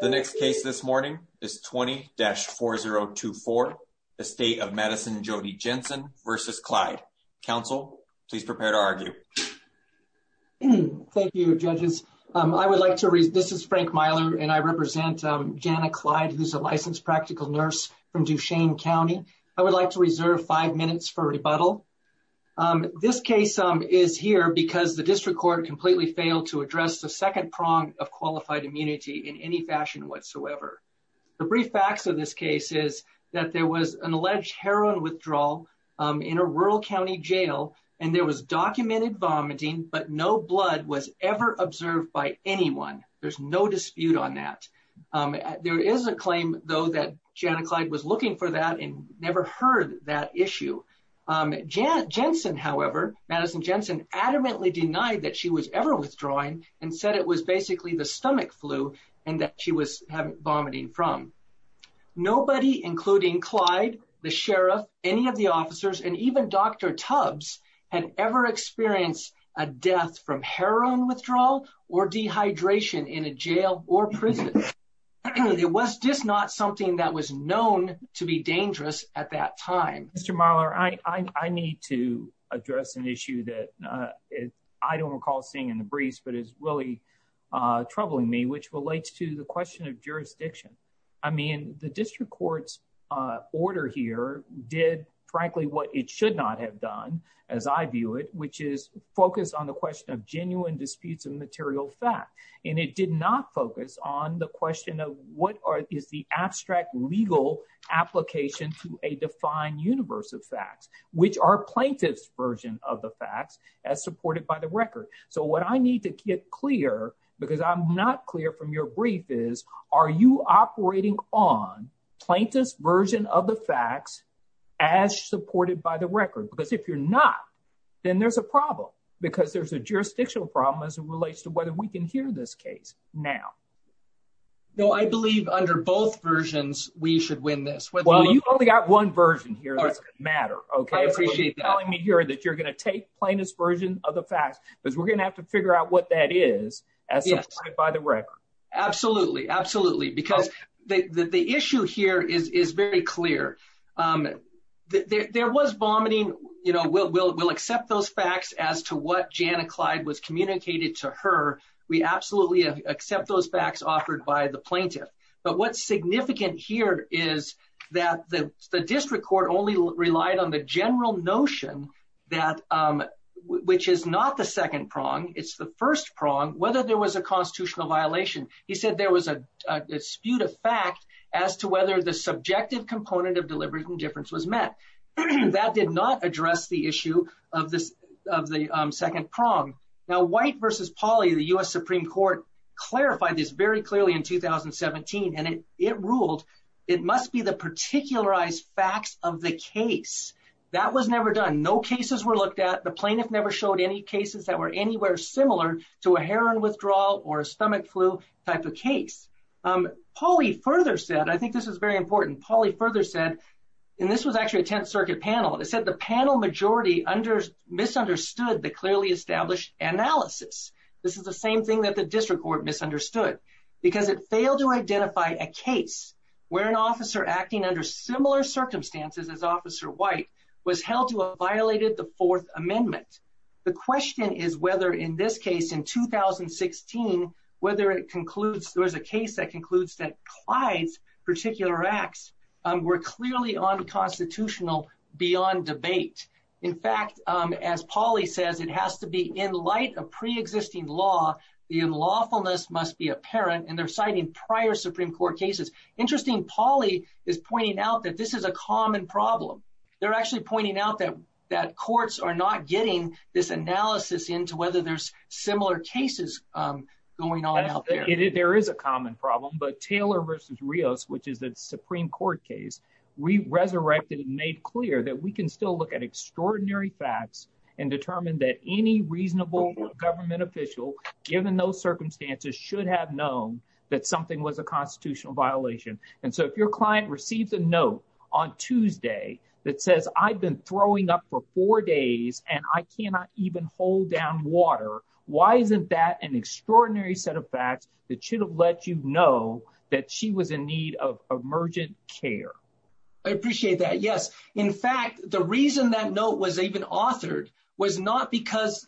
The next case this morning is 20-4024, Estate of Madison Jody Jensen v. Clyde. Counsel, please prepare to argue. Thank you, judges. I would like to, this is Frank Myler, and I represent Janet Clyde, who's a licensed practical nurse from Duchesne County. I would like to reserve five minutes for rebuttal. This case is here because the district court completely failed to address the second prong of qualified immunity in any fashion whatsoever. The brief facts of this case is that there was an alleged heroin withdrawal in a rural county jail, and there was documented vomiting, but no blood was ever observed by anyone. There's no dispute on that. There is a claim, though, that Janet Clyde was looking for that and never heard that issue. Jensen, however, adamantly denied that she was ever withdrawing and said it was basically the stomach flu and that she was vomiting from. Nobody, including Clyde, the sheriff, any of the officers, and even Dr. Tubbs had ever experienced a death from heroin withdrawal or dehydration in a jail or prison. It was just not something that was known to be dangerous at that time. Mr. Myler, I need to address an issue that I don't recall seeing in the briefs but is really troubling me, which relates to the question of jurisdiction. I mean, the district court's order here did, frankly, what it should not have done, as I view it, which is focus on the question of genuine disputes of material fact, and it did not focus on the question of what is the abstract legal application to a defined universe of facts, which are plaintiff's version of the facts as supported by the record. So what I need to get clear, because I'm not clear from your brief, is are you operating on plaintiff's version of the facts as supported by the record? Because if you're not, then there's a problem because there's a jurisdictional problem as it relates to whether we can hear this case now. No, I believe under both versions we should win this. Well, you've only got one version here that's going to matter, okay? I appreciate that. You're telling me here that you're going to take plaintiff's version of the facts because we're going to have to figure out what that is as supported by the record. Absolutely, absolutely, because the issue here is very clear. There was vomiting, you know, we'll accept those facts as to what Jana Clyde was communicating to her. We absolutely accept those facts offered by the plaintiff, but what's significant here is that the district court only relied on the general notion that, which is not the second prong, it's the first prong, whether there was a constitutional violation. He said there was a dispute of fact as to whether the subjective component of deliberate indifference was met. That did not address the issue of the second prong. Now, White v. Pauley, the U.S. Supreme Court, clarified this very clearly in 2017, and it ruled it must be the particularized facts of the case. That was never done. No cases were looked at. The plaintiff never showed any cases that were anywhere similar to a heroin withdrawal or a stomach flu type of case. Pauley further said, I think this is very important, Pauley further said, and this was actually a Tenth Circuit panel, it said the panel majority misunderstood the clearly established analysis. This is the same thing that the district court misunderstood, because it failed to identify a case where an officer acting under similar circumstances as Officer White was held to have violated the Fourth Amendment. The question is whether in this case in 2016, whether it concludes there was a case that includes that Clyde's particular acts were clearly unconstitutional beyond debate. In fact, as Pauley says, it has to be in light of pre-existing law. The unlawfulness must be apparent, and they're citing prior Supreme Court cases. Interesting, Pauley is pointing out that this is a common problem. They're actually pointing out that that courts are not getting this analysis into whether there's similar cases going on out there. There is a common problem, but Taylor versus Rios, which is the Supreme Court case, we resurrected and made clear that we can still look at extraordinary facts and determine that any reasonable government official, given those circumstances, should have known that something was a constitutional violation. And so if your client receives a note on Tuesday that says, I've been throwing up for four days and I cannot even hold down water, why isn't that an extraordinary set of facts that should have let you know that she was in need of emergent care? I appreciate that. Yes. In fact, the reason that note was even authored was not because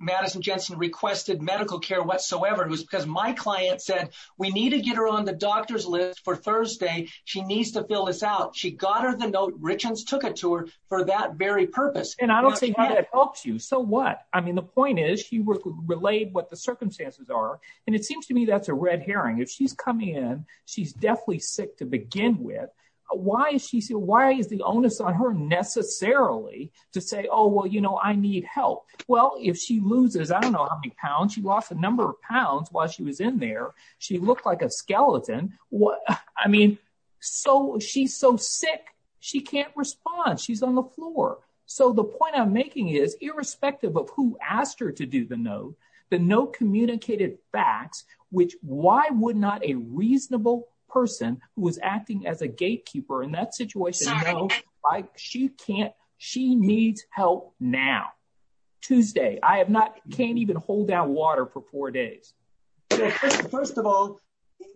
Madison Jensen requested medical care whatsoever. It was because my client said, we need to get her on the doctor's list for Thursday. She needs to fill this out. She got her the note. Richens took it to her for that very purpose. And I don't think that helps you. So what? I mean, the point is she relayed what the circumstances are, and it seems to me that's a red herring. If she's coming in, she's definitely sick to begin with. Why is the onus on her necessarily to say, oh, well, you know, I need help. Well, if she loses, I don't know how many pounds, she lost a number of pounds while she was in there. She looked like a skeleton. What? I mean, so she's so sick, she can't respond. She's on the floor. So the point I'm making is irrespective of who asked her to do the note, the note communicated facts, which why would not a reasonable person who was acting as a gatekeeper in that situation, like she can't, she needs help now. Tuesday, I have not, can't even hold down water for four days. First of all,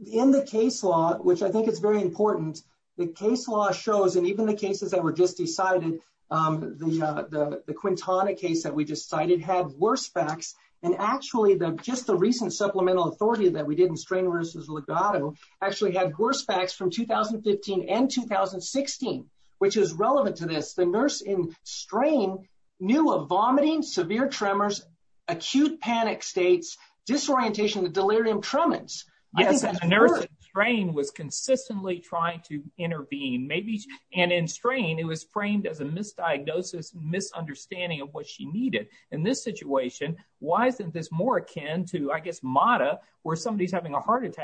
in the case law, which I think is very important, the case law shows, and even the cases that were just decided, the Quintana case that we just cited had worse facts. And actually, just the recent supplemental authority that we did in strain versus legato actually had worse facts from 2015 and 2016, which is relevant to this. The nurse in strain knew of vomiting, severe tremors, acute panic states, disorientation, the delirium tremens. Yes, the nurse in strain was consistently trying to intervene, maybe, and in strain, it was framed as a misdiagnosis, misunderstanding of what she needed. In this situation, why isn't this more akin to, I guess, MATA, where somebody's having a heart with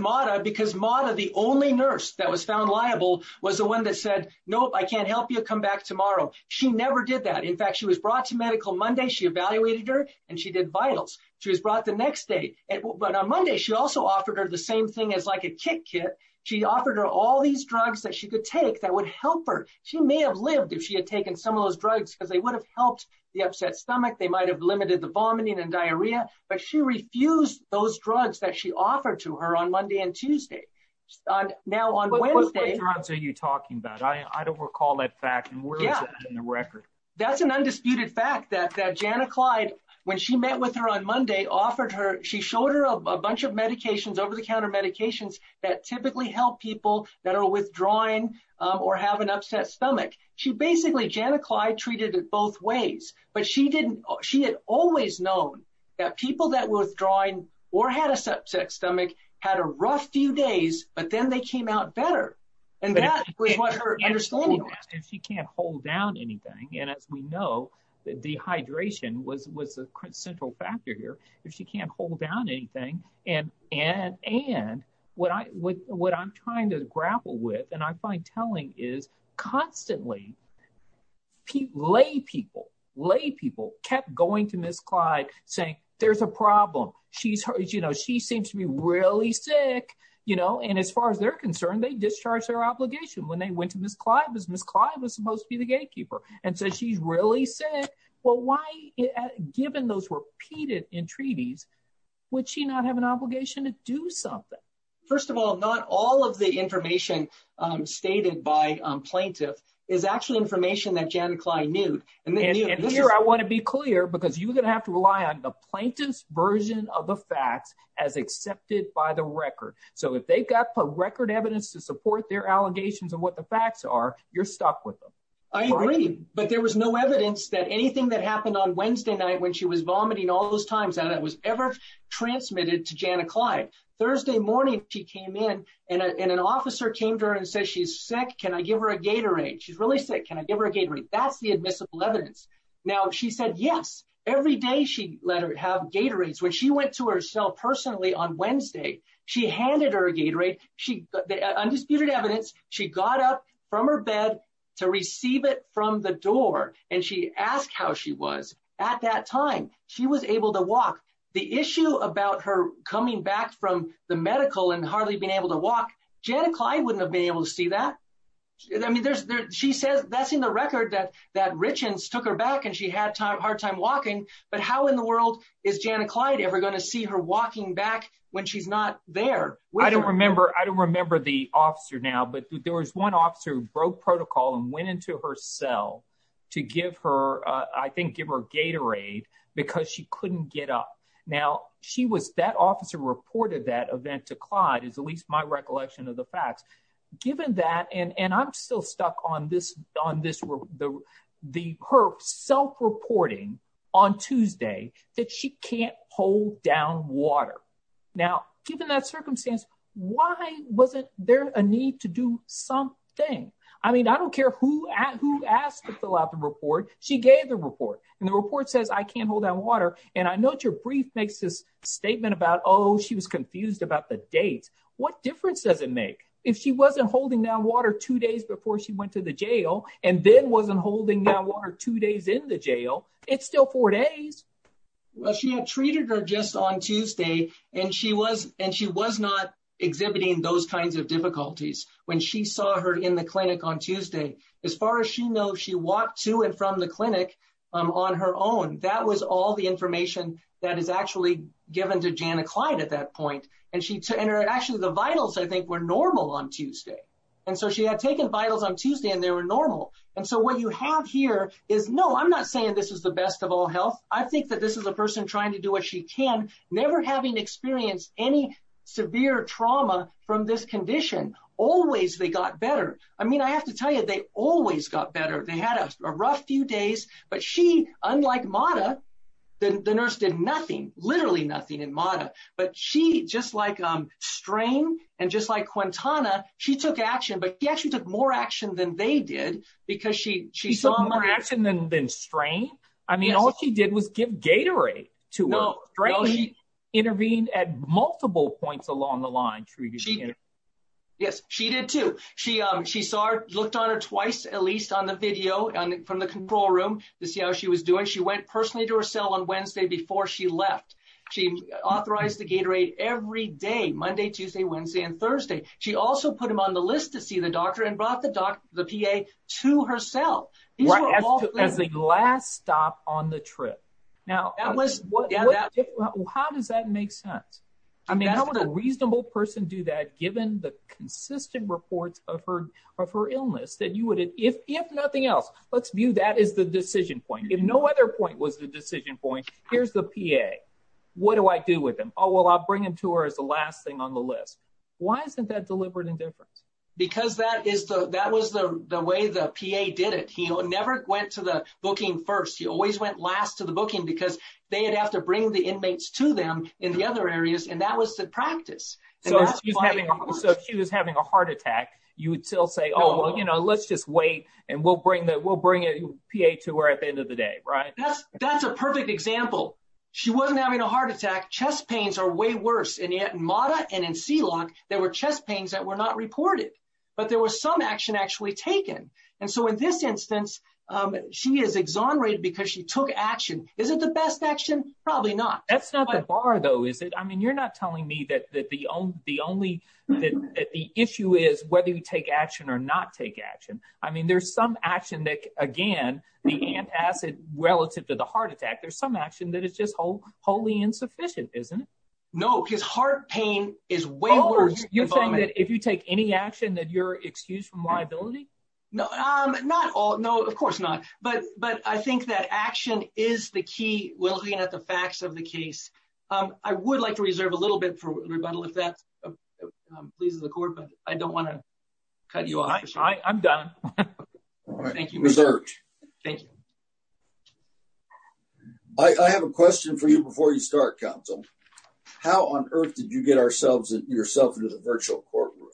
MATA, because MATA, the only nurse that was found liable, was the one that said, nope, I can't help you, come back tomorrow. She never did that. In fact, she was brought to medical Monday, she evaluated her, and she did vitals. She was brought the next day, but on Monday, she also offered her the same thing as like a kit kit. She offered her all these drugs that she could take that would help her. She may have lived if she had taken some of those drugs, because they would have helped the upset stomach. They might have limited the vomiting and diarrhea, but she refused those drugs that she offered to her on Monday and Tuesday. Now, on Wednesday... What drugs are you talking about? I don't recall that fact, and where is it in the record? That's an undisputed fact, that Janna Clyde, when she met with her on Monday, offered her, she showed her a bunch of medications, over-the-counter medications, that typically help people that are withdrawing or have an upset stomach. She basically, Janna Clyde, treated it both ways, but she didn't, she had always known that people that were withdrawing or had an upset stomach, had a rough few days, but then they came out better, and that was what her understanding was. She can't hold down anything, and as we know, dehydration was a central factor here. If she can't hold down anything, and what I'm trying to grapple with, and I find telling, is constantly lay people kept going to Ms. Clyde, saying there's a problem, she seems to be really sick, and as far as they're concerned, they discharged their obligation when they went to Ms. Clyde, because Ms. Clyde was supposed to be the gatekeeper, and said she's really sick. Well, why, given those repeated entreaties, would she not have an obligation to do something? First of all, not all of the information stated by plaintiffs, is actually information that Janna Clyde knew. And here, I want to be clear, this is the plaintiff's version of the facts, as accepted by the record. So, if they've got record evidence to support their allegations, and what the facts are, you're stuck with them. I agree, but there was no evidence that anything that happened on Wednesday night, when she was vomiting all those times, and it was ever transmitted to Janna Clyde. Thursday morning, she came in, and an officer came to her and said, she's sick, can I give her a Gatorade? She's really sick, can I give her a Gatorade? Now, she said yes. Every day, she let her have Gatorades. When she went to her cell personally, on Wednesday, she handed her a Gatorade, undisputed evidence, she got up from her bed to receive it from the door, and she asked how she was. At that time, she was able to walk. The issue about her coming back from the medical, and hardly being able to walk, Janna Clyde wouldn't have been able to see that. I mean, she says, that's in the record, that Richens took her back, and she had hard time walking, but how in the world is Janna Clyde ever going to see her walking back, when she's not there? I don't remember, I don't remember the officer now, but there was one officer who broke protocol, and went into her cell to give her, I think, give her Gatorade, because she couldn't get up. Now, she was, that officer reported that event to Clyde, is at least my recollection of the facts. Given that, and I'm still stuck on this, on this, the her self-reporting on Tuesday, that she can't hold down water. Now, given that circumstance, why wasn't there a need to do something? I mean, I don't care who asked to fill out the report, she gave the report, and the report says, I can't hold down water, and I note your brief makes this statement about, oh, she was confused about the doesn't make. If she wasn't holding down water two days before she went to the jail, and then wasn't holding down water two days in the jail, it's still four days. Well, she had treated her just on Tuesday, and she was, and she was not exhibiting those kinds of difficulties, when she saw her in the clinic on Tuesday. As far as she knows, she walked to and from the clinic on her own. That was all the information that is actually given to Janna Clyde at that point, and she, and her, actually the vitals, I think, were normal on Tuesday, and so she had taken vitals on Tuesday, and they were normal, and so what you have here is, no, I'm not saying this is the best of all health. I think that this is a person trying to do what she can, never having experienced any severe trauma from this condition. Always they got better. I mean, I have to tell you, they always got better. They had a rough few days, but she, unlike Mada, the nurse did nothing, literally nothing in Mada, but she, just like Strain, and just like Quintana, she took action, but she actually took more action than they did, because she, she saw more action than, than Strain. I mean, all she did was give Gatorade to her. Strain intervened at multiple points along the line. Yes, she did too. She, she saw her, looked on her twice, at least on the video, and from the control room, to see how she was doing. She went personally to her cell on Wednesday before she left. She authorized the Gatorade every day, Monday, Tuesday, Wednesday, and Thursday. She also put him on the list to see the doctor, and brought the doctor, the PA, to her cell. As the last stop on the trip. Now, how does that make sense? I mean, how would a reasonable person do that, given the consistent reports of her, of her illness, that you would, if, if nothing else, let's view that as the decision point. If no other point was the decision point, here's the PA. What do I do with him? Oh, well, I'll bring him to her as the last thing on the list. Why isn't that deliberate indifference? Because that is the, that was the, the way the PA did it. He never went to the booking first. He always went last to the booking, because they would have to bring the inmates to them in the other areas, and that was the practice. So, if she was having a heart attack, you would still say, oh, well, you know, let's just wait, and we'll bring the, we'll bring a PA to her at the end of the day, right? That's, that's a perfect example. She wasn't having a heart attack. Chest pains are way worse, and yet, in MATA and in C-LOC, there were chest pains that were not reported, but there was some action actually taken, and so, in this instance, she is exonerated, because she took action. Is it the best action? Probably not. That's not the bar, though, is it? I mean, you're not telling me that the only, that the issue is whether you take action or not take action. I mean, there's some action that, again, the antacid relative to the heart attack, there's some action that is just wholly insufficient, isn't it? No, because heart pain is way worse. Oh, you're saying that if you take any action, that you're excused from liability? No, not all, no, of course not, but, but I think that action is the key when looking at the facts of the case. I would like to reserve a little bit for rebundal, if that pleases the court, but I don't want to cut you off. I'm done. Thank you. I have a question for you before you start, counsel. How on earth did you get ourselves, yourself into the virtual courtroom,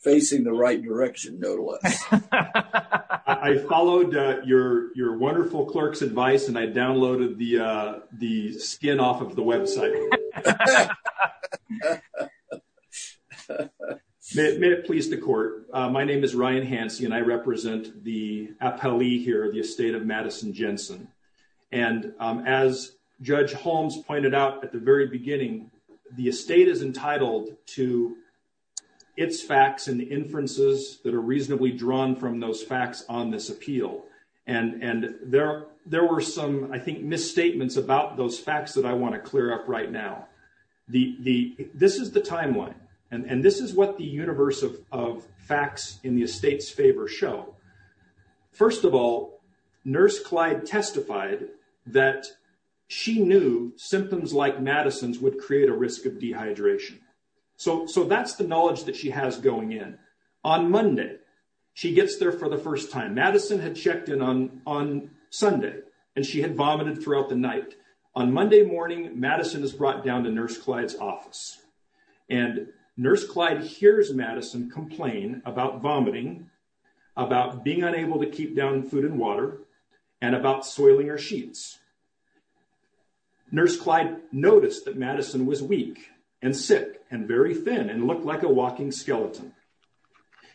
facing the right direction, though, to us? I followed your wonderful clerk's advice, and I downloaded the skin off of the website. May it please the court. My name is Ryan Hansey, and I represent the appellee here, the estate of Madison Jensen. And as Judge Holmes pointed out at the very beginning, the estate is entitled to its facts and the inferences that are reasonably drawn from those facts on this appeal. And there were some, I think, misstatements about those facts that I want to clear up right now. This is the timeline, and this is what the universe of facts in the estate's favor show. First of all, Nurse Clyde testified that she knew symptoms like Madison's would create a risk of dehydration. So that's the knowledge that she has going in. On Monday, she gets there for the first time. Madison had checked in on Sunday, and she had vomited throughout the night. On Monday morning, Madison is brought down to Nurse Clyde's office. And Nurse Clyde hears Madison complain about vomiting, about being unable to keep down food and water, and about soiling her sheets. Nurse Clyde noticed that Madison was weak, and sick, and very thin, and looked like a walking skeleton.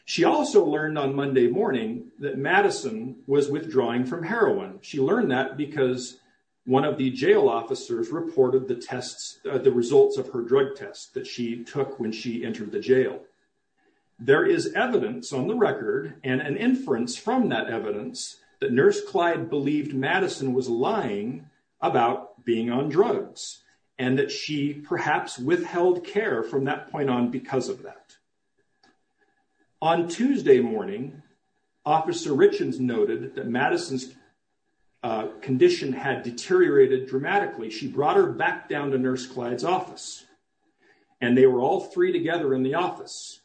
She also learned on Monday morning that Madison was withdrawing from heroin. She learned that because one of the jail officers reported the tests, the results of her drug test that she took when she entered the jail. There is evidence on that evidence that Nurse Clyde believed Madison was lying about being on drugs, and that she perhaps withheld care from that point on because of that. On Tuesday morning, Officer Richens noted that Madison's condition had deteriorated dramatically. She brought her back down to Nurse Clyde's office, and they were all three together in the office,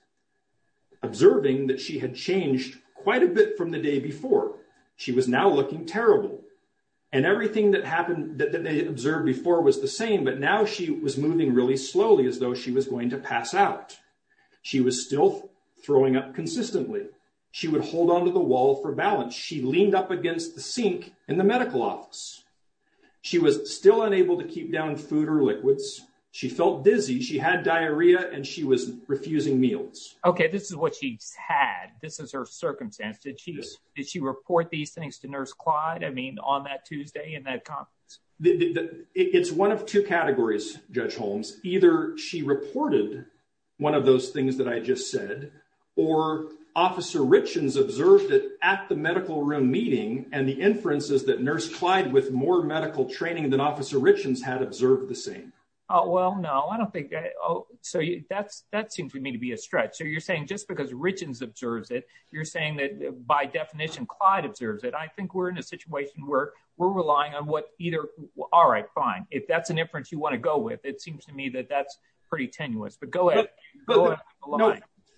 observing that she had changed quite a bit from the day before. She was now looking terrible, and everything that happened that they had observed before was the same, but now she was moving really slowly as though she was going to pass out. She was still throwing up consistently. She would hold onto the wall for balance. She leaned up against the sink in the medical office. She was still unable to keep down food or liquids. She felt dizzy. She had diarrhea, and she was refusing meals. Okay, this is what she's had. This is her circumstance. Did she report these things to Nurse Clyde, I mean, on that Tuesday in that conference? It's one of two categories, Judge Holmes. Either she reported one of those things that I just said, or Officer Richens observed it at the medical room meeting, and the inference is that Nurse Clyde, with more medical training than Officer Richens, had observed the same. Oh, well, no, I don't think that, oh, so that seems to me to be a stretch. So you're saying just because Richens observes it, you're saying that, by definition, Clyde observes it. I think we're in a situation where we're relying on what either, all right, fine. If that's an inference you want to go with, it seems to me that that's pretty tenuous, but go ahead.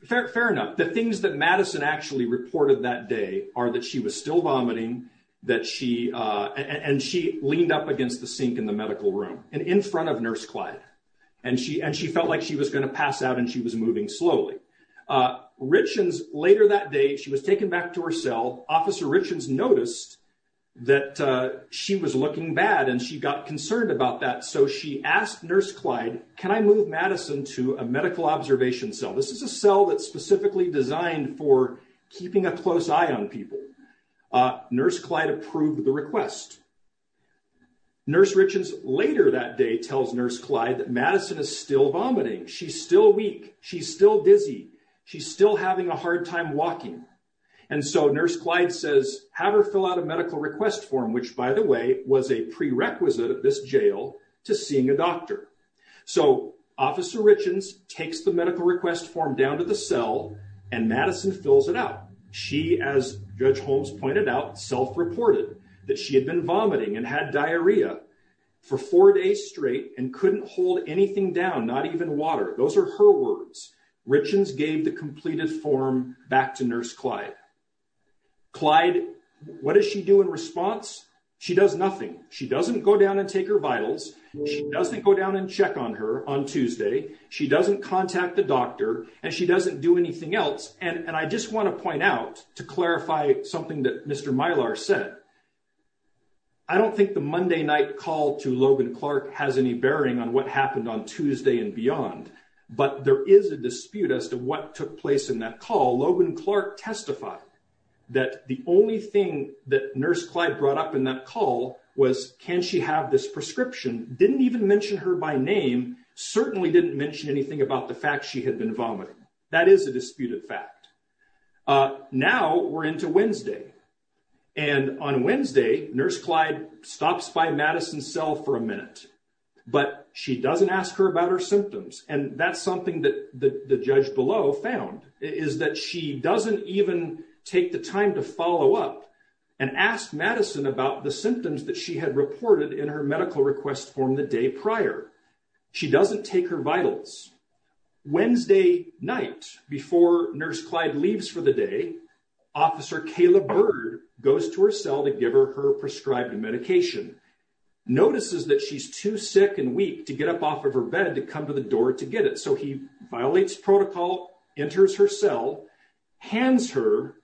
Fair enough. The things that Madison actually reported that day are that she was still vomiting, and she leaned up against the sink in the medical room and in her room, and she started vomiting very slowly. Richens, later that day, she was taken back to her cell. Officer Richens noticed that she was looking bad, and she got concerned about that. So she asked Nurse Clyde, can I move Madison to a medical observation cell? This is a cell that's specifically designed for keeping a close eye on people. Nurse Clyde approved the request. Nurse Richens, later that day, tells Nurse Clyde that Madison is still vomiting. She's still weak. She's still dizzy. She's still having a hard time walking. And so Nurse Clyde says, have her fill out a medical request form, which, by the way, was a prerequisite of this jail to seeing a doctor. So Officer Richens takes the medical request form down to the cell, and Madison fills it out. She, as Judge Holmes pointed out, self-reported that she had been vomiting and had diarrhea for four days straight and couldn't hold anything down, not even water. Those are her words. Richens gave the completed form back to Nurse Clyde. Clyde, what does she do in response? She does nothing. She doesn't go down and take her vitals. She doesn't go down and check on her on Tuesday. She doesn't contact the doctor, and she doesn't do anything else. And I just want to clarify something that Mr. Mylar said. I don't think the Monday night call to Logan Clark has any bearing on what happened on Tuesday and beyond, but there is a dispute as to what took place in that call. Logan Clark testified that the only thing that Nurse Clyde brought up in that call was, can she have this prescription? Didn't even mention her by name. Certainly didn't mention anything about the fact she had been vomiting. That is a disputed fact. Now we're into Wednesday, and on Wednesday, Nurse Clyde stops by Madison's cell for a minute, but she doesn't ask her about her symptoms. And that's something that the judge below found, is that she doesn't even take the time to follow up and ask Madison about the symptoms that she had reported in her medical request form the day prior. She doesn't take her vitals. Wednesday night, before Nurse Clyde leaves for the day, Officer Kayla Bird goes to her cell to give her her prescribed medication. Notices that she's too sick and weak to get up off of her bed to come to the door to get it, so he violates protocol, enters her cell, hands her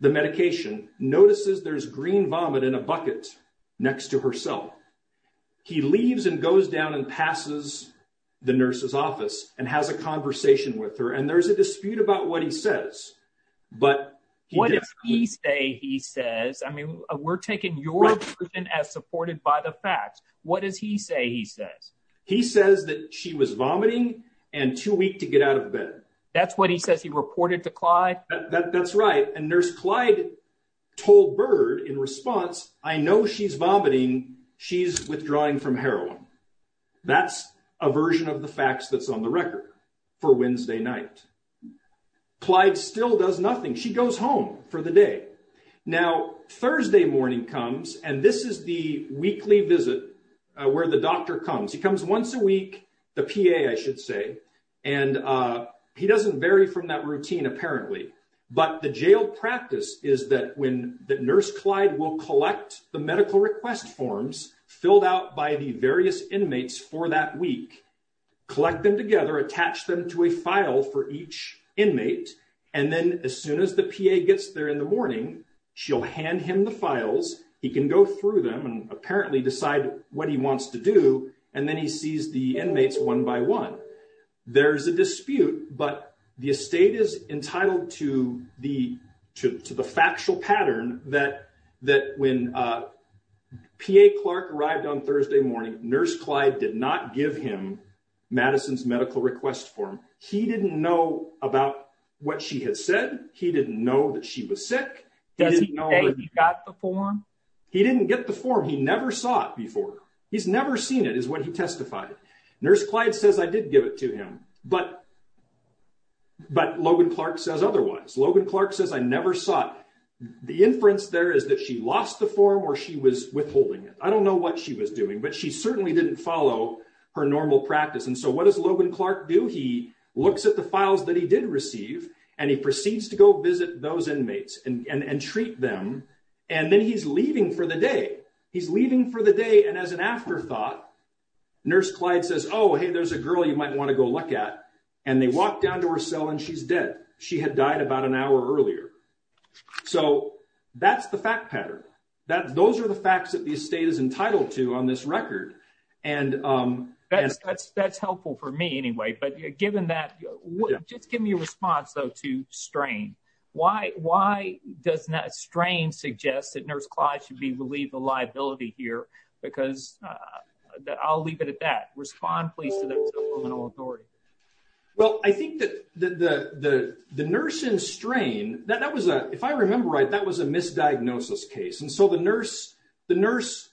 the medication, notices there's green he leaves and goes down and passes the nurse's office and has a conversation with her. And there's a dispute about what he says, but... What does he say he says? I mean, we're taking your version as supported by the facts. What does he say he says? He says that she was vomiting and too weak to get out of bed. That's what he says he reported to Clyde? That's right. And Nurse Clyde told Bird in response, I know she's vomiting, she's withdrawing from heroin. That's a version of the facts that's on the record for Wednesday night. Clyde still does nothing. She goes home for the day. Now, Thursday morning comes, and this is the weekly visit where the doctor comes. He comes once a week, the PA I should say, and he doesn't vary from that routine apparently, but the jail practice is that when the nurse Clyde will collect the medical request forms filled out by the various inmates for that week, collect them together, attach them to a file for each inmate, and then as soon as the PA gets there in the morning, she'll hand him the files. He can go through them and apparently decide what he wants to do, and then he sees the inmates one by one. There's a dispute, but the estate is entitled to the factual pattern that when PA Clark arrived on Thursday morning, Nurse Clyde did not give him Madison's medical request form. He didn't know about what she had said. He didn't know that she was sick. Does he say he got the form? He didn't get the form. He never saw it before. He's never seen it is what he testified. Nurse Clyde says I did give it to him, but Logan Clark says otherwise. Logan Clark says I never saw it. The inference there is that she lost the form or she was withholding it. I don't know what she was doing, but she certainly didn't follow her normal practice, and so what does Logan Clark do? He looks at the files that he did receive and he proceeds to go visit those inmates and treat them, and then he's leaving for the day. He's leaving for the day, and as an afterthought, Nurse Clyde says oh hey there's a girl you might want to go look at, and they walk down to her cell and she's dead. She had died about an hour earlier. So that's the fact pattern. Those are the facts that the estate is entitled to on this record. That's helpful for me anyway, but given that, just give me a response though to strain. Why does strain suggest that Nurse Clyde should be relieved of liability here because I'll leave it at that. Respond please to that criminal authority. Well I think that the nurse in strain, that was a, if I remember right, that was a misdiagnosis case, and so the nurse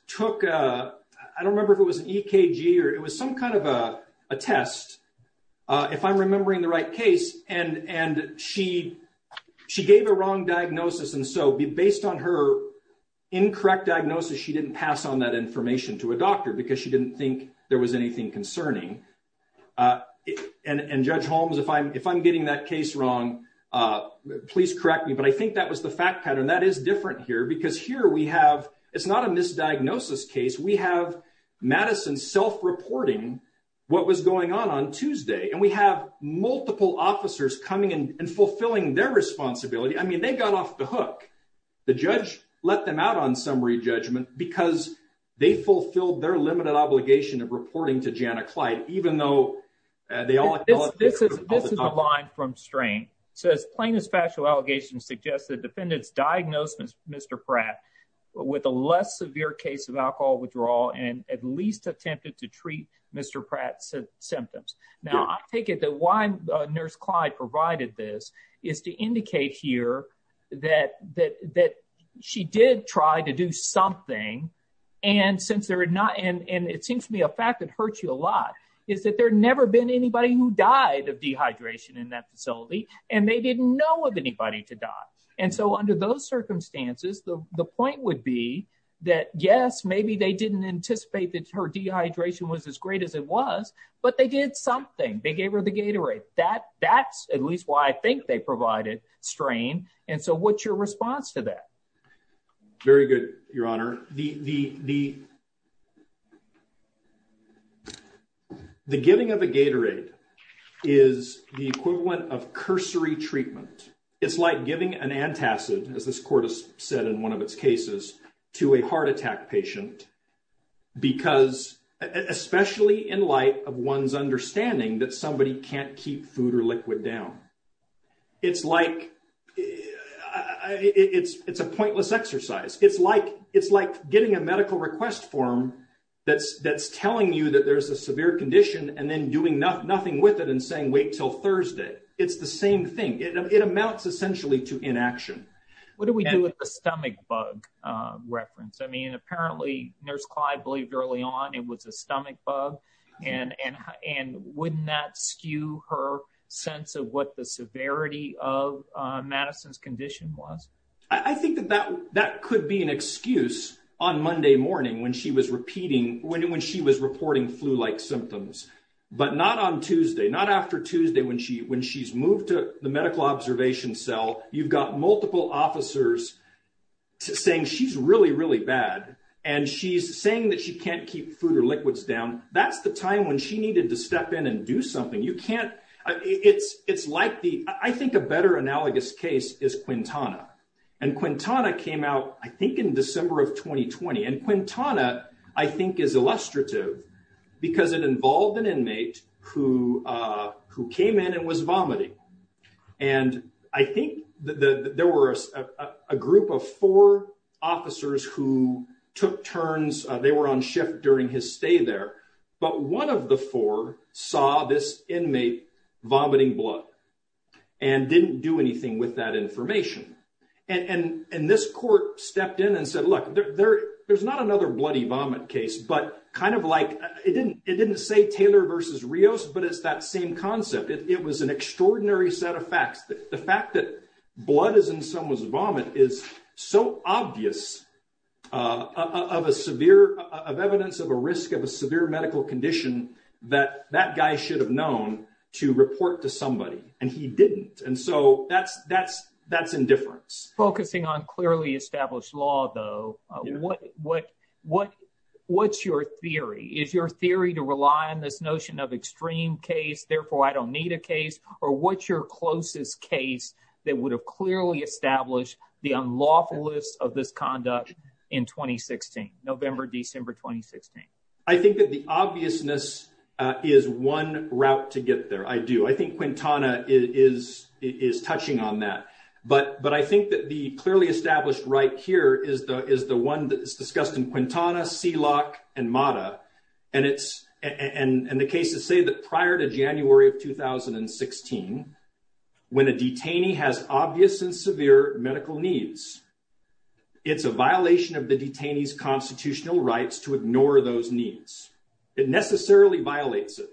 took, I don't remember if it was an EKG, or it was some kind of a test, if I'm remembering the right case, and she gave a wrong diagnosis, and so based on her information to a doctor because she didn't think there was anything concerning, and Judge Holmes, if I'm getting that case wrong, please correct me, but I think that was the fact pattern. That is different here because here we have, it's not a misdiagnosis case, we have Madison self-reporting what was going on on Tuesday, and we have multiple officers coming and fulfilling their responsibility. I mean they got off the hook. The judge let them out on summary judgment because they fulfilled their limited obligation of reporting to Jana Clyde, even though they all, this is the line from strain. So as plain as factual allegations suggest, the defendant's diagnosis, Mr. Pratt, with a less severe case of alcohol withdrawal, and at least attempted to treat Mr. Pratt's symptoms. Now I take it that why Nurse Clyde provided this is to indicate here that she did try to do something, and since there had not, and it seems to me a fact that hurts you a lot, is that there never been anybody who died of dehydration in that facility, and they didn't know of anybody to die. And so under those circumstances, the point would be that yes, maybe they didn't anticipate that her dehydration was as great as it was, but they did something. They gave provided strain, and so what's your response to that? Very good, Your Honor. The giving of a Gatorade is the equivalent of cursory treatment. It's like giving an antacid, as this court has said in one of its cases, to a heart attack patient because, especially in light of one's down. It's like, it's a pointless exercise. It's like getting a medical request form that's telling you that there's a severe condition, and then doing nothing with it and saying, wait till Thursday. It's the same thing. It amounts essentially to inaction. What do we do with the stomach bug reference? I mean, apparently Nurse Clyde believed early on it was a stomach bug, and wouldn't that skew her sense of what the severity of Madison's condition was? I think that that could be an excuse on Monday morning when she was reporting flu-like symptoms, but not on Tuesday, not after Tuesday when she's moved to the medical observation cell. You've got multiple officers saying she's really, really bad, and she's saying that she can't keep food or liquids down. That's the time when she needed to step in and do something. I think a better analogous case is Quintana. Quintana came out, I think, in December of 2020. Quintana, I think, is illustrative because it involved an inmate who came in and was vomiting. I think there were a group of four officers who took turns. They were on shift during his stay there, but one of the four saw this inmate vomiting blood and didn't do anything with that information. This court stepped in and said, look, there's not another bloody vomit case, but kind of like, it didn't say Taylor v. Rios, but it's that same concept. It was an extraordinary set of facts. The fact that blood is in someone's vomit is so obvious of evidence of a risk of a severe medical condition that that guy should have known to report to somebody, and he didn't. That's indifference. Focusing on clearly established law, though, what's your theory? Is your theory to rely on this notion of extreme case, therefore I don't need a case? Or what's your closest case that would have clearly established the unlawfulness of this conduct in November, December 2016? I think that the obviousness is one route to get there. I do. Quintana is touching on that, but I think that the clearly established right here is the one that is discussed in Quintana, Seelock, and Mata. The cases say that prior to January of 2016, when a detainee has obvious and severe medical needs, it's a violation of the detainee's constitutional rights to ignore those needs. It necessarily violates it.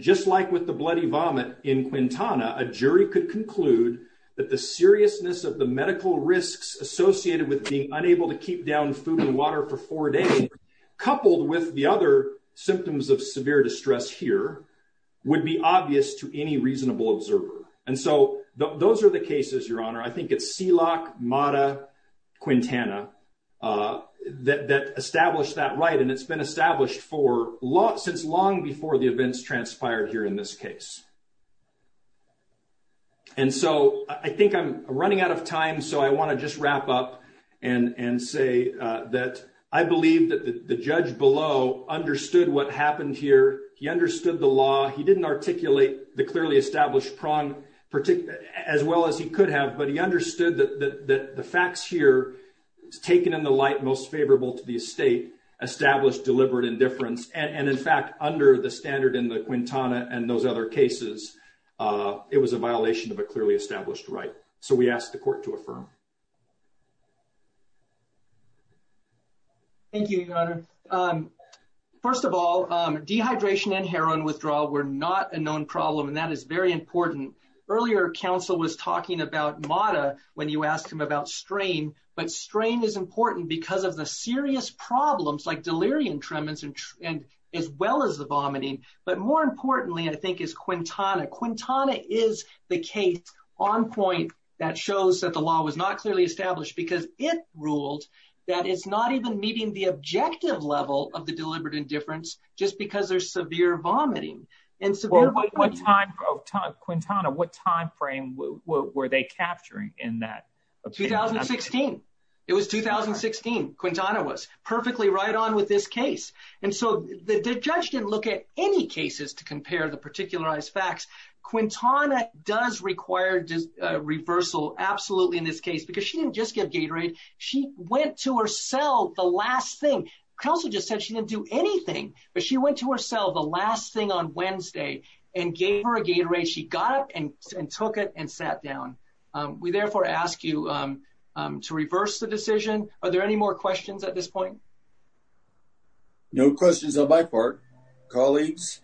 Just like with the vomit in Quintana, a jury could conclude that the seriousness of the medical risks associated with being unable to keep down food and water for four days, coupled with the other symptoms of severe distress here, would be obvious to any reasonable observer. And so those are the cases, Your Honor. I think it's Seelock, Mata, Quintana that established that right, and it's been established since long before the events transpired here in this case. And so I think I'm running out of time, so I want to just wrap up and say that I believe that the judge below understood what happened here. He understood the law. He didn't articulate the clearly established prong as well as he could have, but he understood that the facts here, taken in the light most favorable to the estate, established deliberate indifference. And in fact, under the standard in the Quintana and those other cases, it was a violation of a clearly established right. So we ask the court to affirm. Thank you, Your Honor. First of all, dehydration and heroin withdrawal were not a known problem, and that is very important. Earlier, counsel was talking about Mata when you asked him about strain, but strain is important because of the serious problems like delirium tremens as well as the vomiting. But more importantly, I think, is Quintana. Quintana is the case on point that shows that the law was not clearly established because it ruled that it's not even meeting the objective level of the deliberate indifference just because there's severe vomiting. Well, what time, Quintana, what time frame were they capturing in that? 2016. It was 2016. Quintana was perfectly right on with this case. And so the judge didn't look at any cases to compare the particularized facts. Quintana does require reversal, absolutely, in this case, because she didn't just give Gatorade. She went to her cell the last thing. Counsel just said she didn't do anything, but she went to her cell the last thing on Wednesday and gave her a Gatorade. She got up and took it and sat down. We therefore ask you to reverse the decision. Are there any more questions at this point? No questions on my part. Colleagues,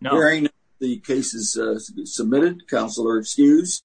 hearing the cases submitted, counsel are excused.